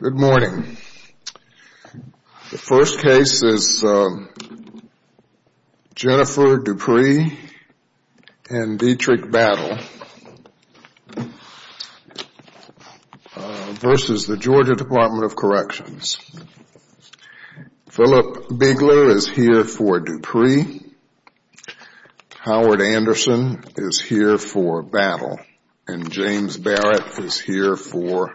Good morning. The first case is Jennifer Dupree and Dietrich Battle versus the Georgia Department of Corrections. Philip Bigler is here for Dupree. Howard Anderson is here for Battle. James Barrett is here for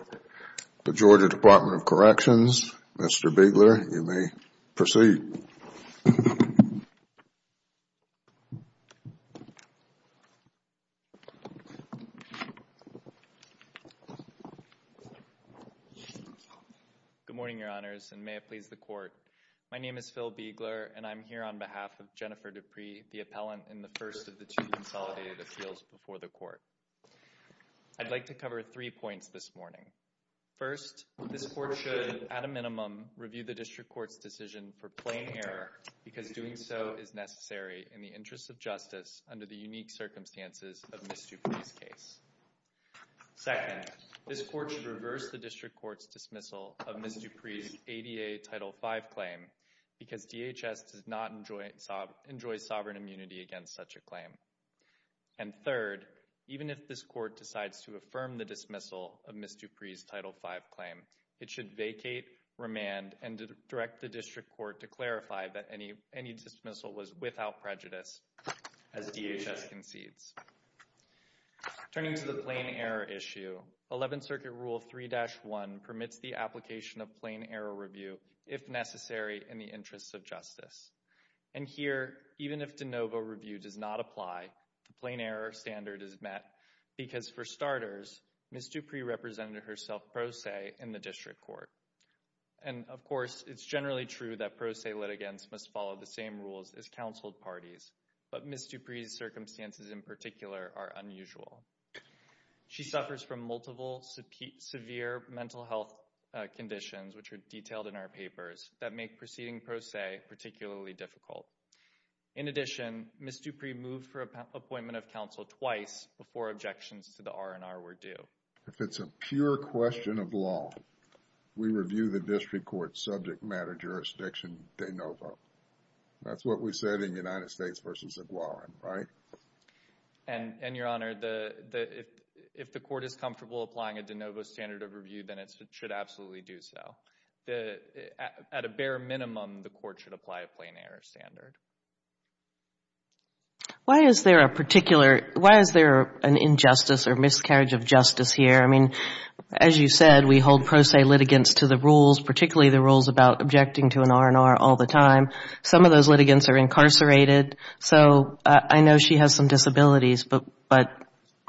the Georgia Department of Corrections. Mr. Bigler, you may proceed. Phil Bigler Good morning, Your Honors, and may it please the Court. My name is Phil Bigler and I am here on behalf of Jennifer Dupree, the appellant in the first of the two consolidated appeals before the Court. I'd like to cover three points this morning. First, this Court should, at a minimum, review the District Court's decision for plain error because doing so is necessary in the interest of justice under the unique circumstances of Ms. Dupree's case. Second, this Court should reverse the District Court's dismissal of Ms. Dupree's enjoys sovereign immunity against such a claim. And third, even if this Court decides to affirm the dismissal of Ms. Dupree's Title V claim, it should vacate, remand, and direct the District Court to clarify that any dismissal was without prejudice as DHS concedes. Turning to the plain error issue, Eleventh Circuit Rule 3-1 permits the application of plain error review if necessary in the interest of justice. And here, even if de novo review does not apply, the plain error standard is met because, for starters, Ms. Dupree represented herself pro se in the District Court. And, of course, it's generally true that pro se litigants must follow the same rules as counseled parties, but Ms. Dupree's circumstances in particular are unusual. She suffers from multiple severe mental health conditions, which are detailed in her papers, that make proceeding pro se particularly difficult. In addition, Ms. Dupree moved for appointment of counsel twice before objections to the R&R were due. If it's a pure question of law, we review the District Court's subject matter jurisdiction de novo. That's what we said in United States v. Aguarin, right? And, Your Honor, if the Court is comfortable applying a de novo standard of review, then it should absolutely do so. At a bare minimum, the Court should apply a plain error standard. Why is there a particular, why is there an injustice or miscarriage of justice here? I mean, as you said, we hold pro se litigants to the rules, particularly the rules about objecting to an R&R all the time. Some of those litigants are incarcerated. So I know she has some disabilities, but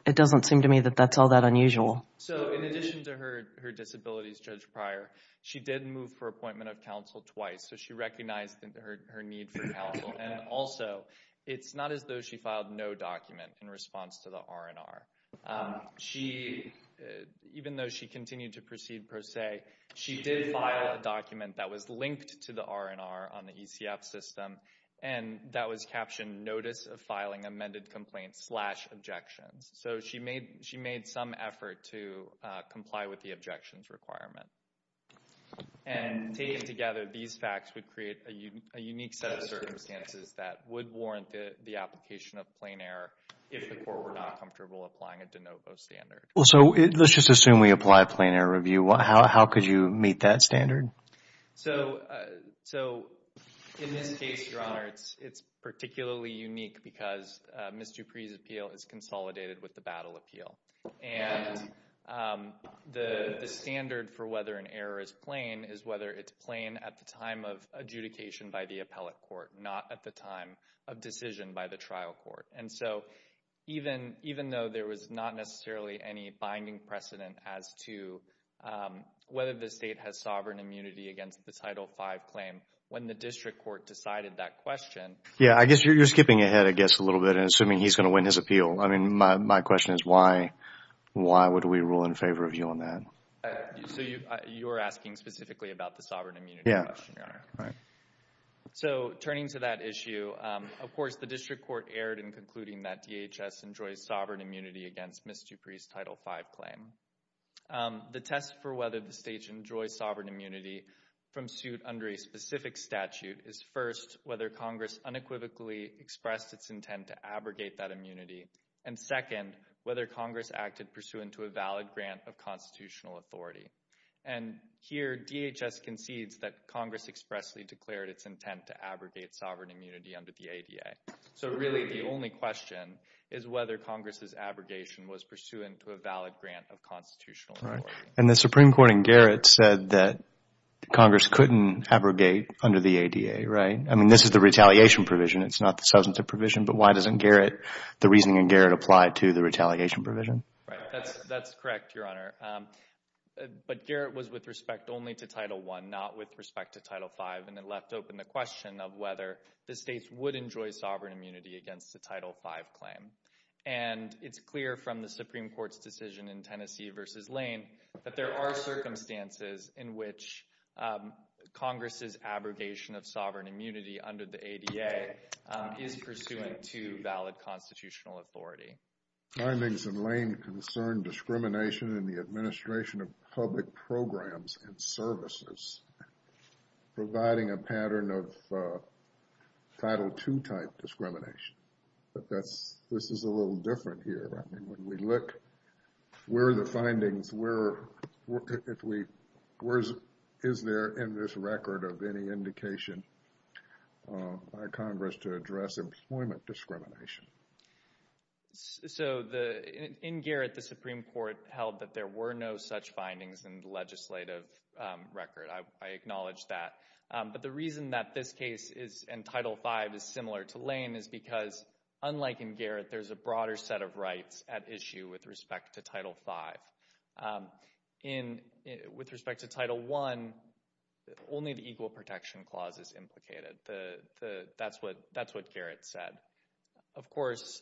it doesn't seem to me that that's all that unusual. So, in addition to her disabilities, Judge Pryor, she did move for appointment of counsel twice. So she recognized her need for counsel. And also, it's not as though she filed no document in response to the R&R. She, even though she continued to proceed pro se, she did file a document that was linked to the R&R on the ECF system, and that was captioned notice of filing amended complaints slash objections. So she made some effort to comply with the objections requirement. And taken together, these facts would create a unique set of circumstances that would warrant the application of plain error if the Court were not comfortable applying a de novo standard. So let's just assume we apply a plain error review. How could you meet that standard? So, in this case, Your Honor, it's particularly unique because Ms. Dupree's appeal is consolidated with the battle appeal. And the standard for whether an error is plain is whether it's plain at the time of adjudication by the appellate court, not at the time of decision by the trial court. And so, even though there was not necessarily any binding precedent as to whether the state has sovereign immunity against the Title V claim, when the district court decided that question... Yeah, I guess you're skipping ahead, I guess, a little bit and assuming he's going to win his appeal. I mean, my question is why would we rule in favor of you on that? So you're asking specifically about the sovereign immunity question, Your Honor? Yeah. So, turning to that issue, of course, the district court erred in concluding that DHS enjoys sovereign immunity against Ms. Dupree's Title V claim. The test for whether the state enjoys sovereign immunity from suit under a specific statute is, first, whether Congress unequivocally expressed its intent to abrogate that immunity, and second, whether Congress acted pursuant to a valid grant of constitutional authority. And here, DHS concedes that Congress expressly declared its intent to abrogate sovereign immunity under the ADA. So really, the only question is whether Congress' abrogation was pursuant to a valid grant of constitutional authority. And the Supreme Court in Garrett said that Congress couldn't abrogate under the ADA, right? I mean, this is the retaliation provision. It's not the substantive provision. But why doesn't Garrett, the reasoning in Garrett, apply to the retaliation provision? That's correct, Your Honor. But Garrett was with respect only to Title I, not with respect to Title V, and it left open the question of whether the states would enjoy sovereign immunity against the Title V claim. And it's clear from the Supreme Court's decision in Tennessee v. Lane that there are circumstances in which Congress' abrogation of sovereign immunity under the ADA is pursuant to valid constitutional authority. Findings in Lane concern discrimination in the administration of public programs and services, providing a pattern of Title II-type discrimination. But this is a little different here. I mean, when we look, where are the findings? Where is there in this record of any indication by Congress to address employment discrimination? So, in Garrett, the Supreme Court held that there were no such findings in the legislative record. I acknowledge that. But the reason that this case is, and Title V, is similar to Lane is because, unlike in Garrett, there's a broader set of rights at issue with respect to Title V. With respect to Title I, only the Equal Protection Clause is implicated. That's what Garrett said. Of course,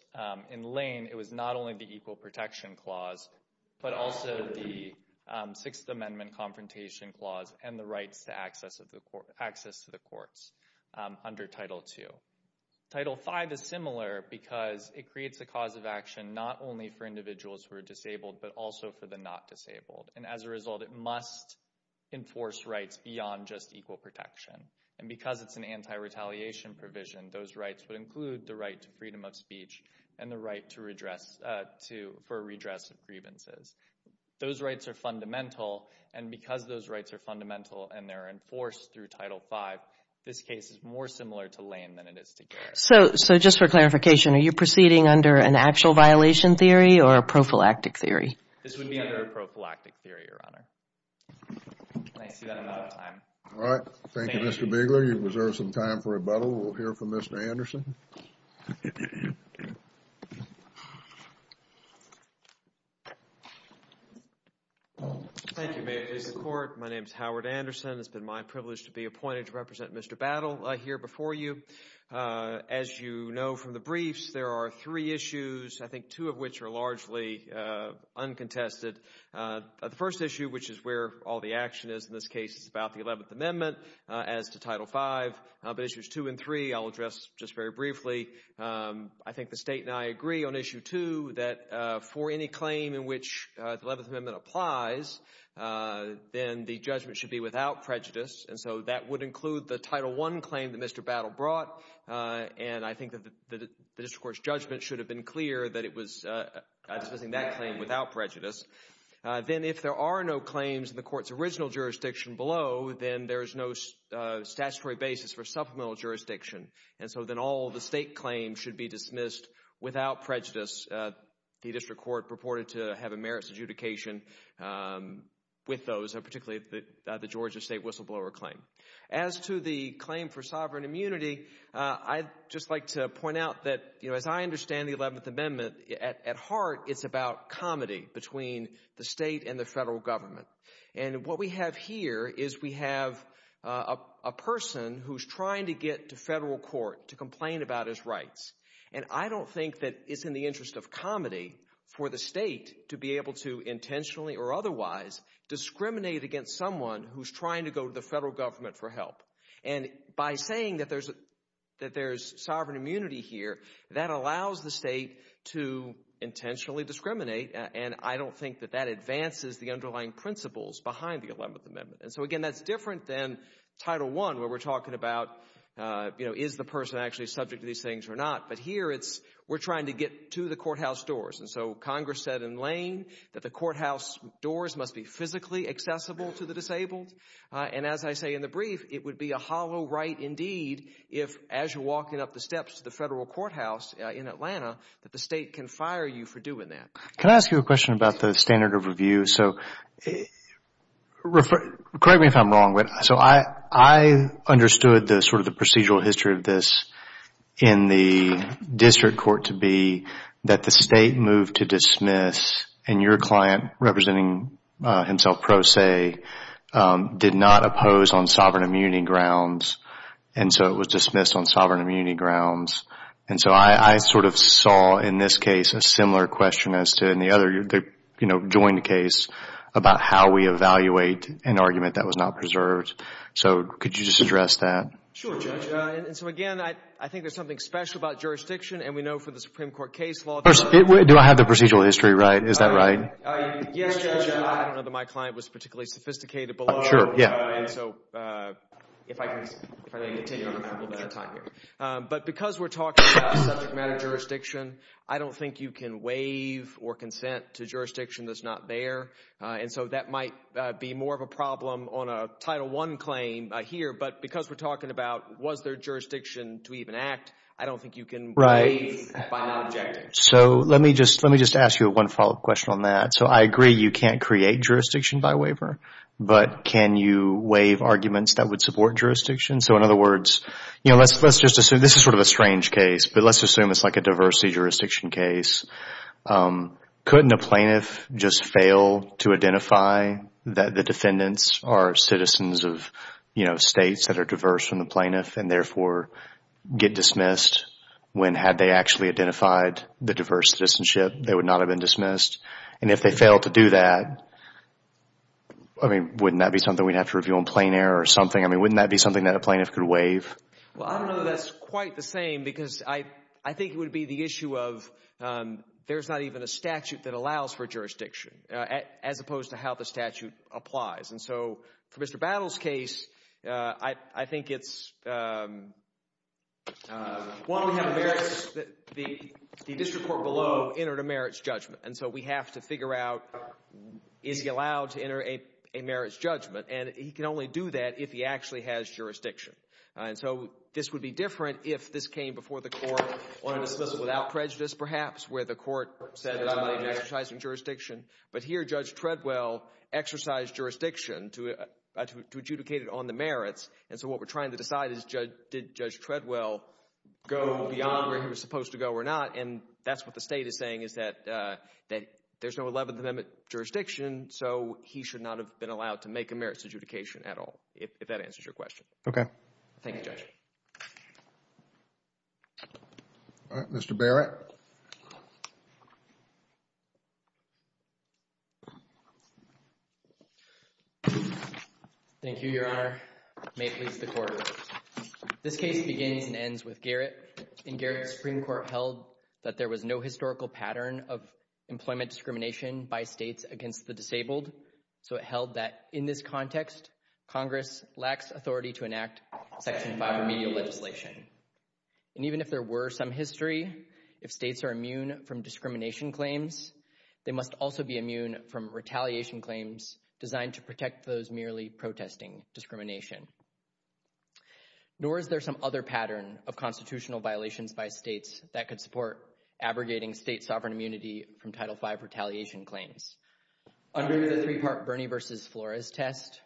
in Lane, it was not only the Equal Protection Clause, but also the Sixth Amendment Confrontation Clause and the rights to access to the courts under Title II. Title V is similar because it creates a cause of action not only for individuals who are disabled, but also for the not disabled. And as a result, it must enforce rights beyond just equal protection. And because it's an anti-retaliation provision, those rights would include the right to freedom of speech and the right for redress of grievances. Those rights are fundamental. And because those rights are fundamental and they're enforced through Title V, this case is more similar to Lane than it is to Garrett. So, just for clarification, are you proceeding under an actual violation theory or a prophylactic theory? This would be under a prophylactic theory, Your Honor. Can I see that another time? All right. Thank you, Mr. Bigler. You've reserved some time for rebuttal. We'll hear from Mr. Anderson. Thank you, Mayor of the District Court. My name is Howard Anderson. It's been my privilege to be appointed to represent Mr. Battle here before you. As you know from the briefs, there are three issues, I think two of which are largely uncontested. The first issue, which is where all the action is in this case, is about the Eleventh Amendment as to Title V. But issues two and three I'll address just very briefly. I think the State and I agree on issue two that for any claim in which the Eleventh Amendment applies, then the judgment should be without prejudice. And so that would include the Title I claim that Mr. Battle brought, and I think that the District Court's judgment should have been clear that it was dismissing that claim without prejudice. Then if there are no claims in the Court's original jurisdiction below, then there is no statutory basis for supplemental jurisdiction. And so then all the State claims should be dismissed without prejudice. The District Court purported to have a merits adjudication with those, particularly the Georgia State whistleblower claim. As to the claim for sovereign immunity, I'd just like to point out that, you know, as I understand the Eleventh Amendment, at heart it's about comedy between the State and the federal government. And what we have here is we have a person who's trying to get to federal court to complain about his rights. And I don't think that it's in the interest of comedy for the State to be able to intentionally or otherwise discriminate against someone who's trying to go to the federal government for help. And by saying that there's sovereign immunity here, that allows the State to intentionally discriminate, and I don't think that that advances the underlying principles behind the Eleventh Amendment. And so, again, that's different than Title I, where we're talking about, you know, is the person actually subject to these things or not? But here it's we're trying to get to the courthouse doors. And so Congress said in Lane that the courthouse doors must be physically accessible to the disabled. And as I say in the brief, it would be a hollow right indeed if, as you're walking up the steps to the federal courthouse in Atlanta, that the State can fire you for doing that. Can I ask you a question about the standard of review? So correct me if I'm wrong, but so I understood the sort of the procedural history of this in the district court to be that the State moved to dismiss, and your client, representing himself pro se, did not oppose on sovereign immunity grounds, and so it was dismissed on sovereign immunity grounds. And so I sort of saw in this case a similar question as to in the other, you know, joint case about how we evaluate an argument that was not preserved. So could you just address that? Sure, Judge. And so, again, I think there's something special about jurisdiction, and we know for the Supreme Court case law that Do I have the procedural history right? Is that right? Yes, Judge. I don't know that my client was particularly sophisticated below. Sure, yeah. And so if I can continue, I'm going to have a little bit of time here. But because we're talking about subject matter jurisdiction, I don't think you can waive or consent to jurisdiction that's not there. And so that might be more of a problem on a Title I claim here, but because we're talking about was there jurisdiction to even act, I don't think you can waive by not objecting. Right. So let me just ask you one follow-up question on that. So I agree you can't create jurisdiction by waiver, but can you waive arguments that would support jurisdiction? So in other words, you know, let's just assume this is sort of a strange case, but let's assume it's like a diversity jurisdiction case. Couldn't a plaintiff just fail to identify that the defendants are citizens of, you know, states that are diverse from the plaintiff and therefore get dismissed when had they actually identified the diverse citizenship, they would not have been dismissed? And if they fail to do that, I mean, wouldn't that be something we'd have to review on plain air or something? I mean, wouldn't that be something that a plaintiff could waive? Well, I don't know that that's quite the same because I think it would be the issue of there's not even a statute that allows for jurisdiction as opposed to how the statute applies. And so for Mr. Battle's case, I think it's, well, we have a merits, the district court below entered a merits judgment. And so we have to figure out, is he allowed to enter a merits judgment? And he can only do that if he actually has jurisdiction. And so this would be different if this came before the court on a dismissal without prejudice, perhaps, where the court said that I'm not exercising jurisdiction. But here, Judge Treadwell exercised jurisdiction to adjudicate it on the merits. And so what we're trying to decide is, did Judge Treadwell go beyond where he was supposed to go or not? And that's what the state is saying, is that there's no Eleventh Amendment jurisdiction, so he should not have been allowed to make a merits adjudication at all, if that answers your question. Okay. Thank you, Judge. All right. Mr. Barrett. Thank you, Your Honor. May it please the Court. This case begins and ends with Garrett. In Garrett, the Supreme Court held that there was no historical pattern of employment discrimination by states against the disabled. So it held that in this context, Congress lacks authority to enact Section 5 remedial legislation. And even if there were some history, if states are immune from discrimination claims, they must also be immune from retaliation claims designed to protect those merely protesting discrimination. Nor is there some other pattern of constitutional violations by states that could support abrogating state sovereign immunity from Title 5 retaliation claims. Under the three-part Bernie v. Flores test,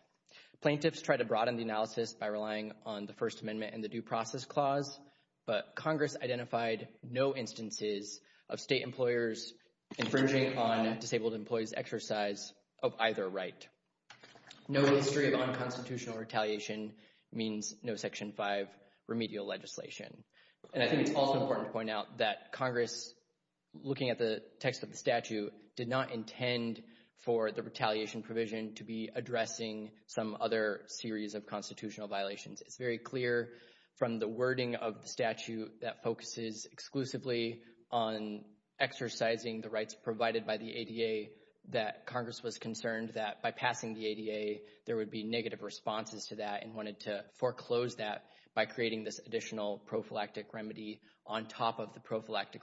plaintiffs tried to broaden the analysis by relying on the First Amendment and the Due Process Clause, but Congress identified no instances of state employers infringing on disabled employees' exercise of either right. No history of unconstitutional retaliation means no Section 5 remedial legislation. And I think it's also important to point out that Congress, looking at the text of the statute, did not intend for the retaliation provision to be addressing some other series of constitutional violations. It's very clear from the wording of the statute that focuses exclusively on exercising the rights provided by the ADA that Congress was concerned that by passing the ADA there would be negative responses to that and wanted to foreclose that by creating this additional prophylactic remedy on top of the prophylactic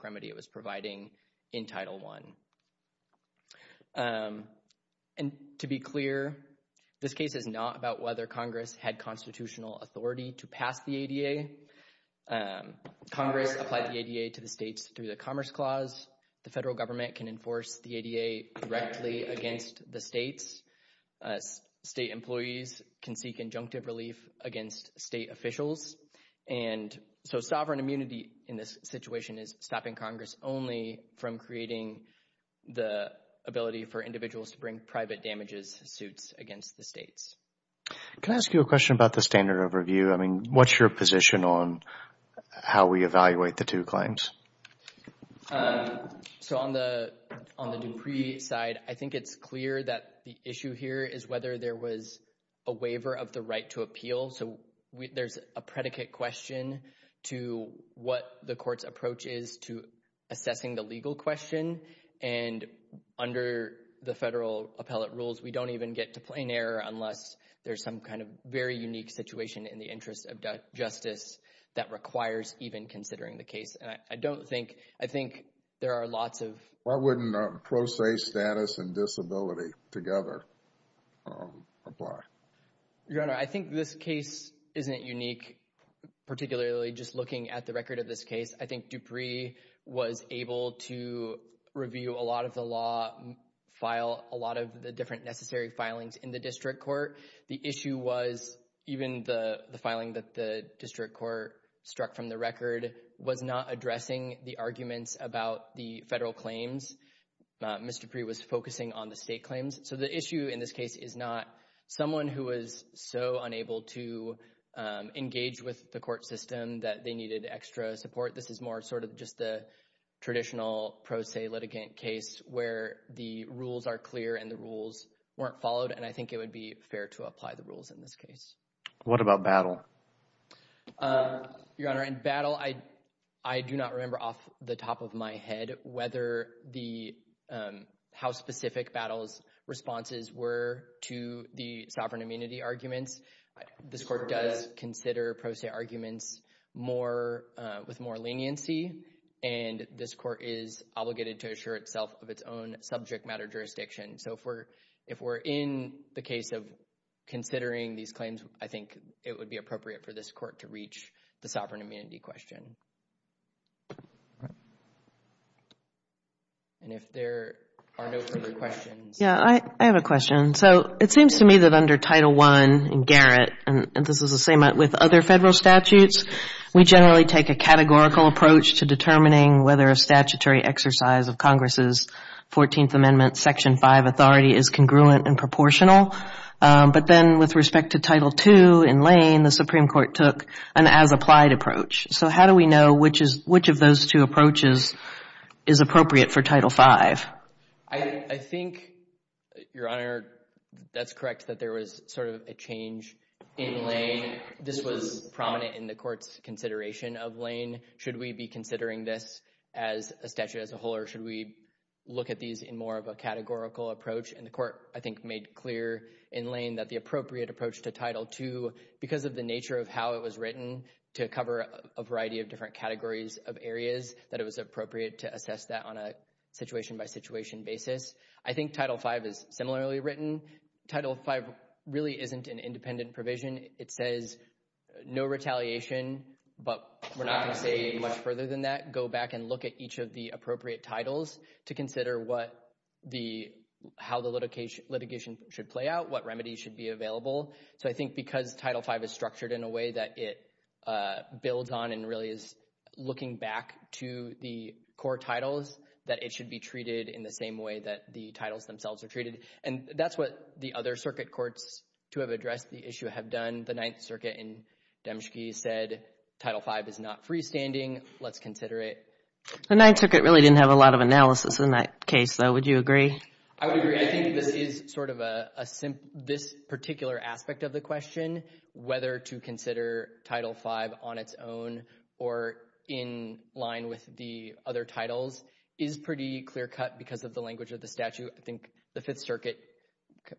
This case is not about whether Congress had constitutional authority to pass the ADA. Congress applied the ADA to the states through the Commerce Clause. The federal government can enforce the ADA directly against the states. State employees can seek injunctive relief against state officials. And so sovereign immunity in this situation is stopping Congress only from creating the ability for individuals to bring private damages suits against the states. Can I ask you a question about the standard overview? I mean, what's your position on how we evaluate the two claims? So on the Dupree side, I think it's clear that the issue here is whether there was a waiver of the right to appeal. So there's a predicate question to what the court's approach is to assessing the legal question. And under the federal appellate rules, we don't even get to plain error unless there's some kind of very unique situation in the interest of justice that requires even considering the case. I don't think, I think there are lots of Why wouldn't pro se status and disability together apply? Your Honor, I think this case isn't unique, particularly just looking at the record of this case. I think Dupree was able to review a lot of the law, file a lot of the different necessary filings in the district court. The issue was even the filing that the district court struck from the record was not addressing the arguments about the federal claims. Mr. Dupree was focusing on the state claims. So the issue in this case is not someone who was so unable to engage with the court system that they needed extra support. This is more sort of just the traditional pro se litigant case where the rules are clear and the rules weren't followed. And I think it would be fair to apply the rules in this case. What about battle? Your Honor, in battle, I do not remember off the top of my head whether the, how specific battles responses were to the sovereign immunity arguments. This court does consider pro se arguments more with more leniency. And this court is obligated to assure itself of its own subject matter jurisdiction. So if we're in the case of considering these claims, I think it would be appropriate for this court to reach the sovereign immunity question. And if there are no further questions. Yeah, I have a question. So it seems to me that under Title I in Garrett, and this is the same with other federal statutes, we generally take a categorical approach to determining whether a statutory exercise of Congress' 14th Amendment Section 5 authority is congruent and proportional. But then with respect to Title II in Lane, the Supreme Court took an as-applied approach. So how do we know which of those two approaches is appropriate for Title V? I think, Your Honor, that's correct that there was sort of a change in Lane. This was prominent in the court's consideration of Lane. Should we be considering this as a statute as a whole or should we look at these in more of a categorical approach? And the court, I think, made clear in Lane that the appropriate approach to Title II, because of the nature of how it was written, to cover a variety of different categories of areas, that it was appropriate to assess that on a situation-by-situation basis. I think Title V is similarly written. Title V really isn't an independent provision. It says no retaliation, but we're not going to say much further than that. Go back and look at each of the appropriate titles to consider what the, how the litigation should play out, what remedies should be available. So I think because Title V is structured in a way that it builds on and really is looking back to the core titles, that it should be treated in the same way that the titles themselves are treated. And that's what the other circuit courts to have addressed the issue have done. The Ninth Circuit in Demske said Title V is not freestanding. Let's consider it. The Ninth Circuit really didn't have a lot of analysis in that case, though. Would you agree? I would agree. I think this is sort of a, this particular aspect of the question, whether to consider Title V on its own or in line with the other titles, is pretty clear-cut because of the language of the statute. I think the Fifth Circuit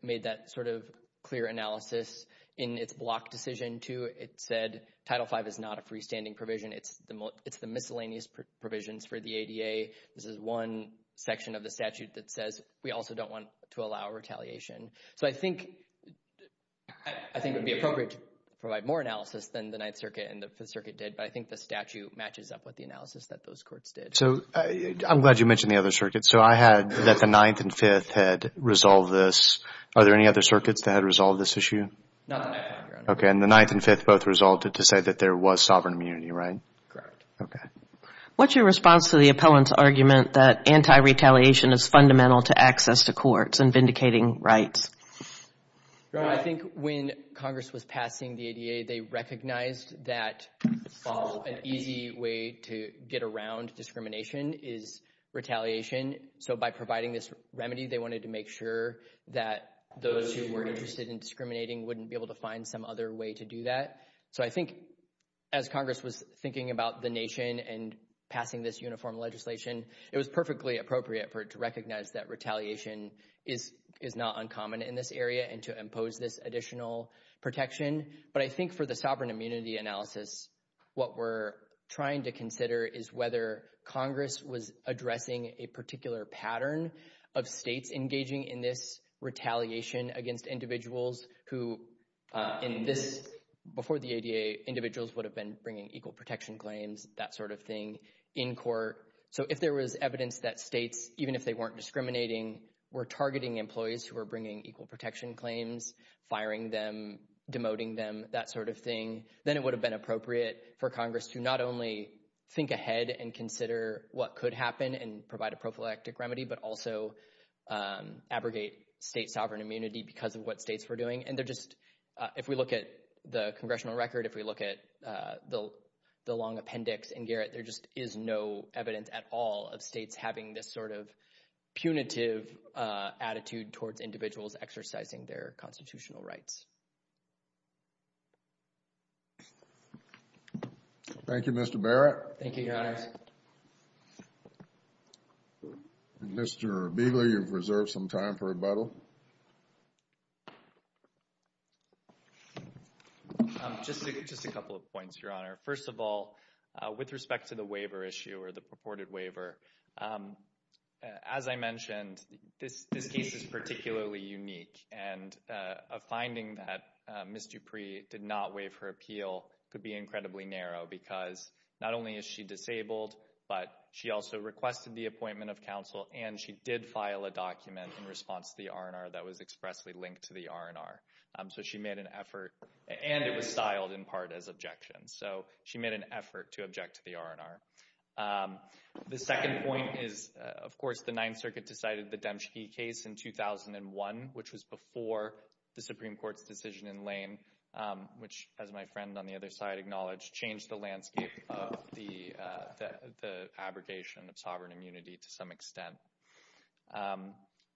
made that sort of clear analysis in its block decision, too. It said Title V is not a freestanding provision. It's the miscellaneous provisions for the ADA. This is one section of the statute that says we also don't want to allow retaliation. So I think it would be appropriate to provide more analysis than the Ninth Circuit and the Fifth Circuit did, but I think the statute matches up with the analysis that those courts did. So I'm glad you mentioned the other circuits. So I had that the Ninth and Fifth had resolved this. Are there any other circuits that had resolved this issue? Not the Ninth. Okay. And the Ninth and Fifth both resolved it to say that there was sovereign immunity, right? Correct. What's your response to the appellant's argument that anti-retaliation is fundamental to access to courts and vindicating rights? I think when Congress was passing the ADA, they recognized that an easy way to get around discrimination is retaliation. So by providing this remedy, they wanted to make sure that those who were interested in discriminating wouldn't be able to find some other way to passing this uniform legislation. It was perfectly appropriate for it to recognize that retaliation is not uncommon in this area and to impose this additional protection. But I think for the sovereign immunity analysis, what we're trying to consider is whether Congress was addressing a particular pattern of states engaging in this retaliation against individuals who, before the ADA, individuals would have been bringing equal protection claims, that sort of thing, in court. So if there was evidence that states, even if they weren't discriminating, were targeting employees who were bringing equal protection claims, firing them, demoting them, that sort of thing, then it would have been appropriate for Congress to not only think ahead and consider what could happen and provide a prophylactic remedy, but also abrogate state sovereign immunity because of what states were doing. And they're just, if we look at the congressional record, if we look at the long appendix in Garrett, there just is no evidence at all of states having this sort of punitive attitude towards individuals exercising their constitutional rights. Thank you, Mr. Barrett. Thank you, Your Honors. Mr. Begley, you've reserved some time for rebuttal. Just a couple of points, Your Honor. First of all, with respect to the waiver issue or the purported waiver, as I mentioned, this case is particularly unique, and a finding that Ms. Dupree did not waive her appeal could be incredibly narrow because not only is she requested the appointment of counsel, and she did file a document in response to the R&R that was expressly linked to the R&R. So she made an effort, and it was styled in part as objections. So she made an effort to object to the R&R. The second point is, of course, the Ninth Circuit decided the Demski case in 2001, which was before the Supreme Court's decision in Lane, which, as my friend on the other side acknowledged, changed the landscape of the abrogation of sovereign immunity to some extent.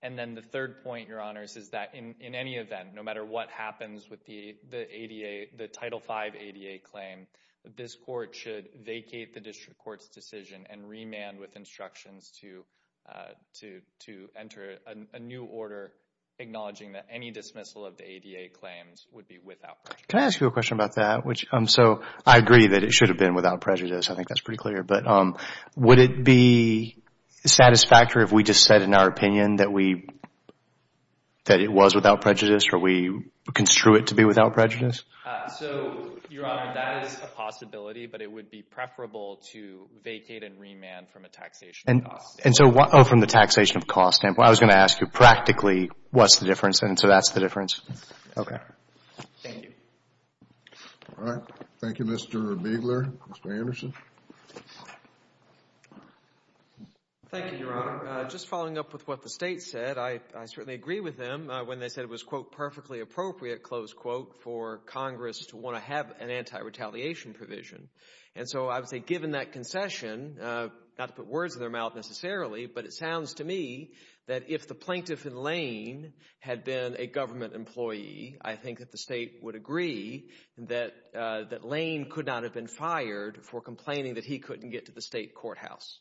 And then the third point, Your Honors, is that in any event, no matter what happens with the Title V ADA claim, this Court should vacate the District Court's decision and remand with instructions to enter a new order acknowledging that any dismissal of the ADA claims would be without question. Can I ask you a question about that? So I agree that it should have been without prejudice. I think that's pretty clear. But would it be satisfactory if we just said in our opinion that it was without prejudice, or we construe it to be without prejudice? So, Your Honor, that is a possibility, but it would be preferable to vacate and remand from a taxation of cost standpoint. Oh, from the taxation of cost standpoint. I was going to ask you, practically, what's the difference, and so that's the difference. Okay. Thank you. All right. Thank you, Mr. Biegler. Mr. Anderson? Thank you, Your Honor. Just following up with what the State said, I certainly agree with them when they said it was, quote, perfectly appropriate, close quote, for Congress to want to have an anti-retaliation provision. And so I would say given that concession, not to put words in their mouth necessarily, but it sounds to me that if the plaintiff in Lane had been a government employee, I think that the State would agree that Lane could not have been fired for complaining that he couldn't get to the State courthouse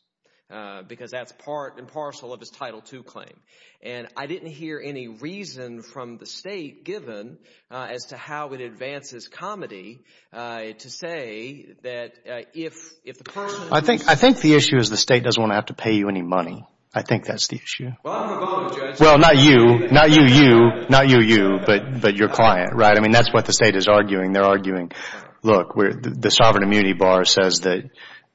because that's part and parcel of his Title II claim. And I didn't hear any reason from the State, given as to how it advances comedy, to say that if the person... I think the issue is the State doesn't want to have to pay you any money. I think that's the issue. Well, I'm a Republican, Judge. Well, not you. Not you, you. Not you, you. But your client, right? I mean, that's what the State is arguing. They're arguing, look, the sovereign immunity bar says that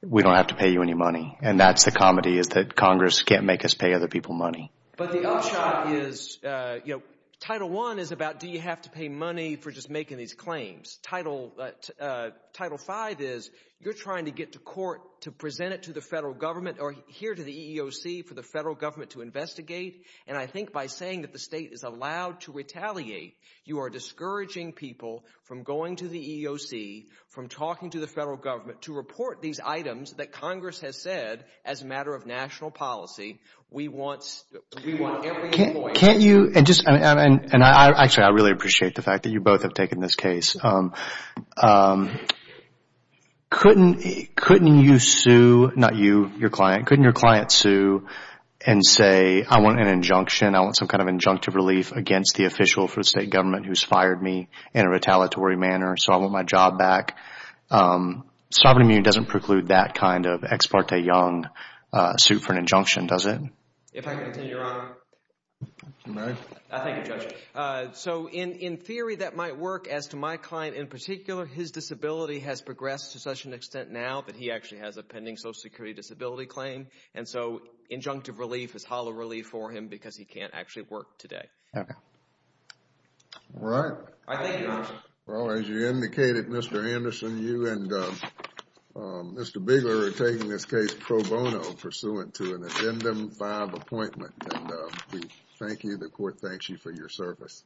we don't have to pay you any money. And that's the comedy, is that Congress can't make us pay other people money. But the upshot is, you know, Title I is about do you have to pay money for just making these claims. Title V is you're trying to get to court to present it to the federal government or here to the EEOC for the federal government to investigate. And I think by saying that the State is allowed to retaliate, you are discouraging people from going to the EEOC, from talking to the federal government, to report these items that Congress has said as a matter of national policy, we want every employee... Can't you... And actually, I really appreciate the fact that you both have taken this case. Couldn't you sue, not you, your client, couldn't your client sue and say I want an injunction, I want some kind of injunctive relief against the official for the State government who has fired me in a retaliatory manner, so I want my job back. Sovereign immunity doesn't preclude that kind of ex parte young suit for an injunction, does it? If I can continue, Your Honor. May I? Thank you, Judge. So in theory that might work, as to my client in particular, his disability has progressed to such an extent now that he actually has a pending Social Security disability claim, and so injunctive relief is hollow relief for him because he can't actually work today. All right. I thank you, Your Honor. Well, as you indicated, Mr. Anderson, you and Mr. Bigler are taking this case pro bono pursuant to an Agenda 5 appointment, and we thank you, the court thanks you for your service.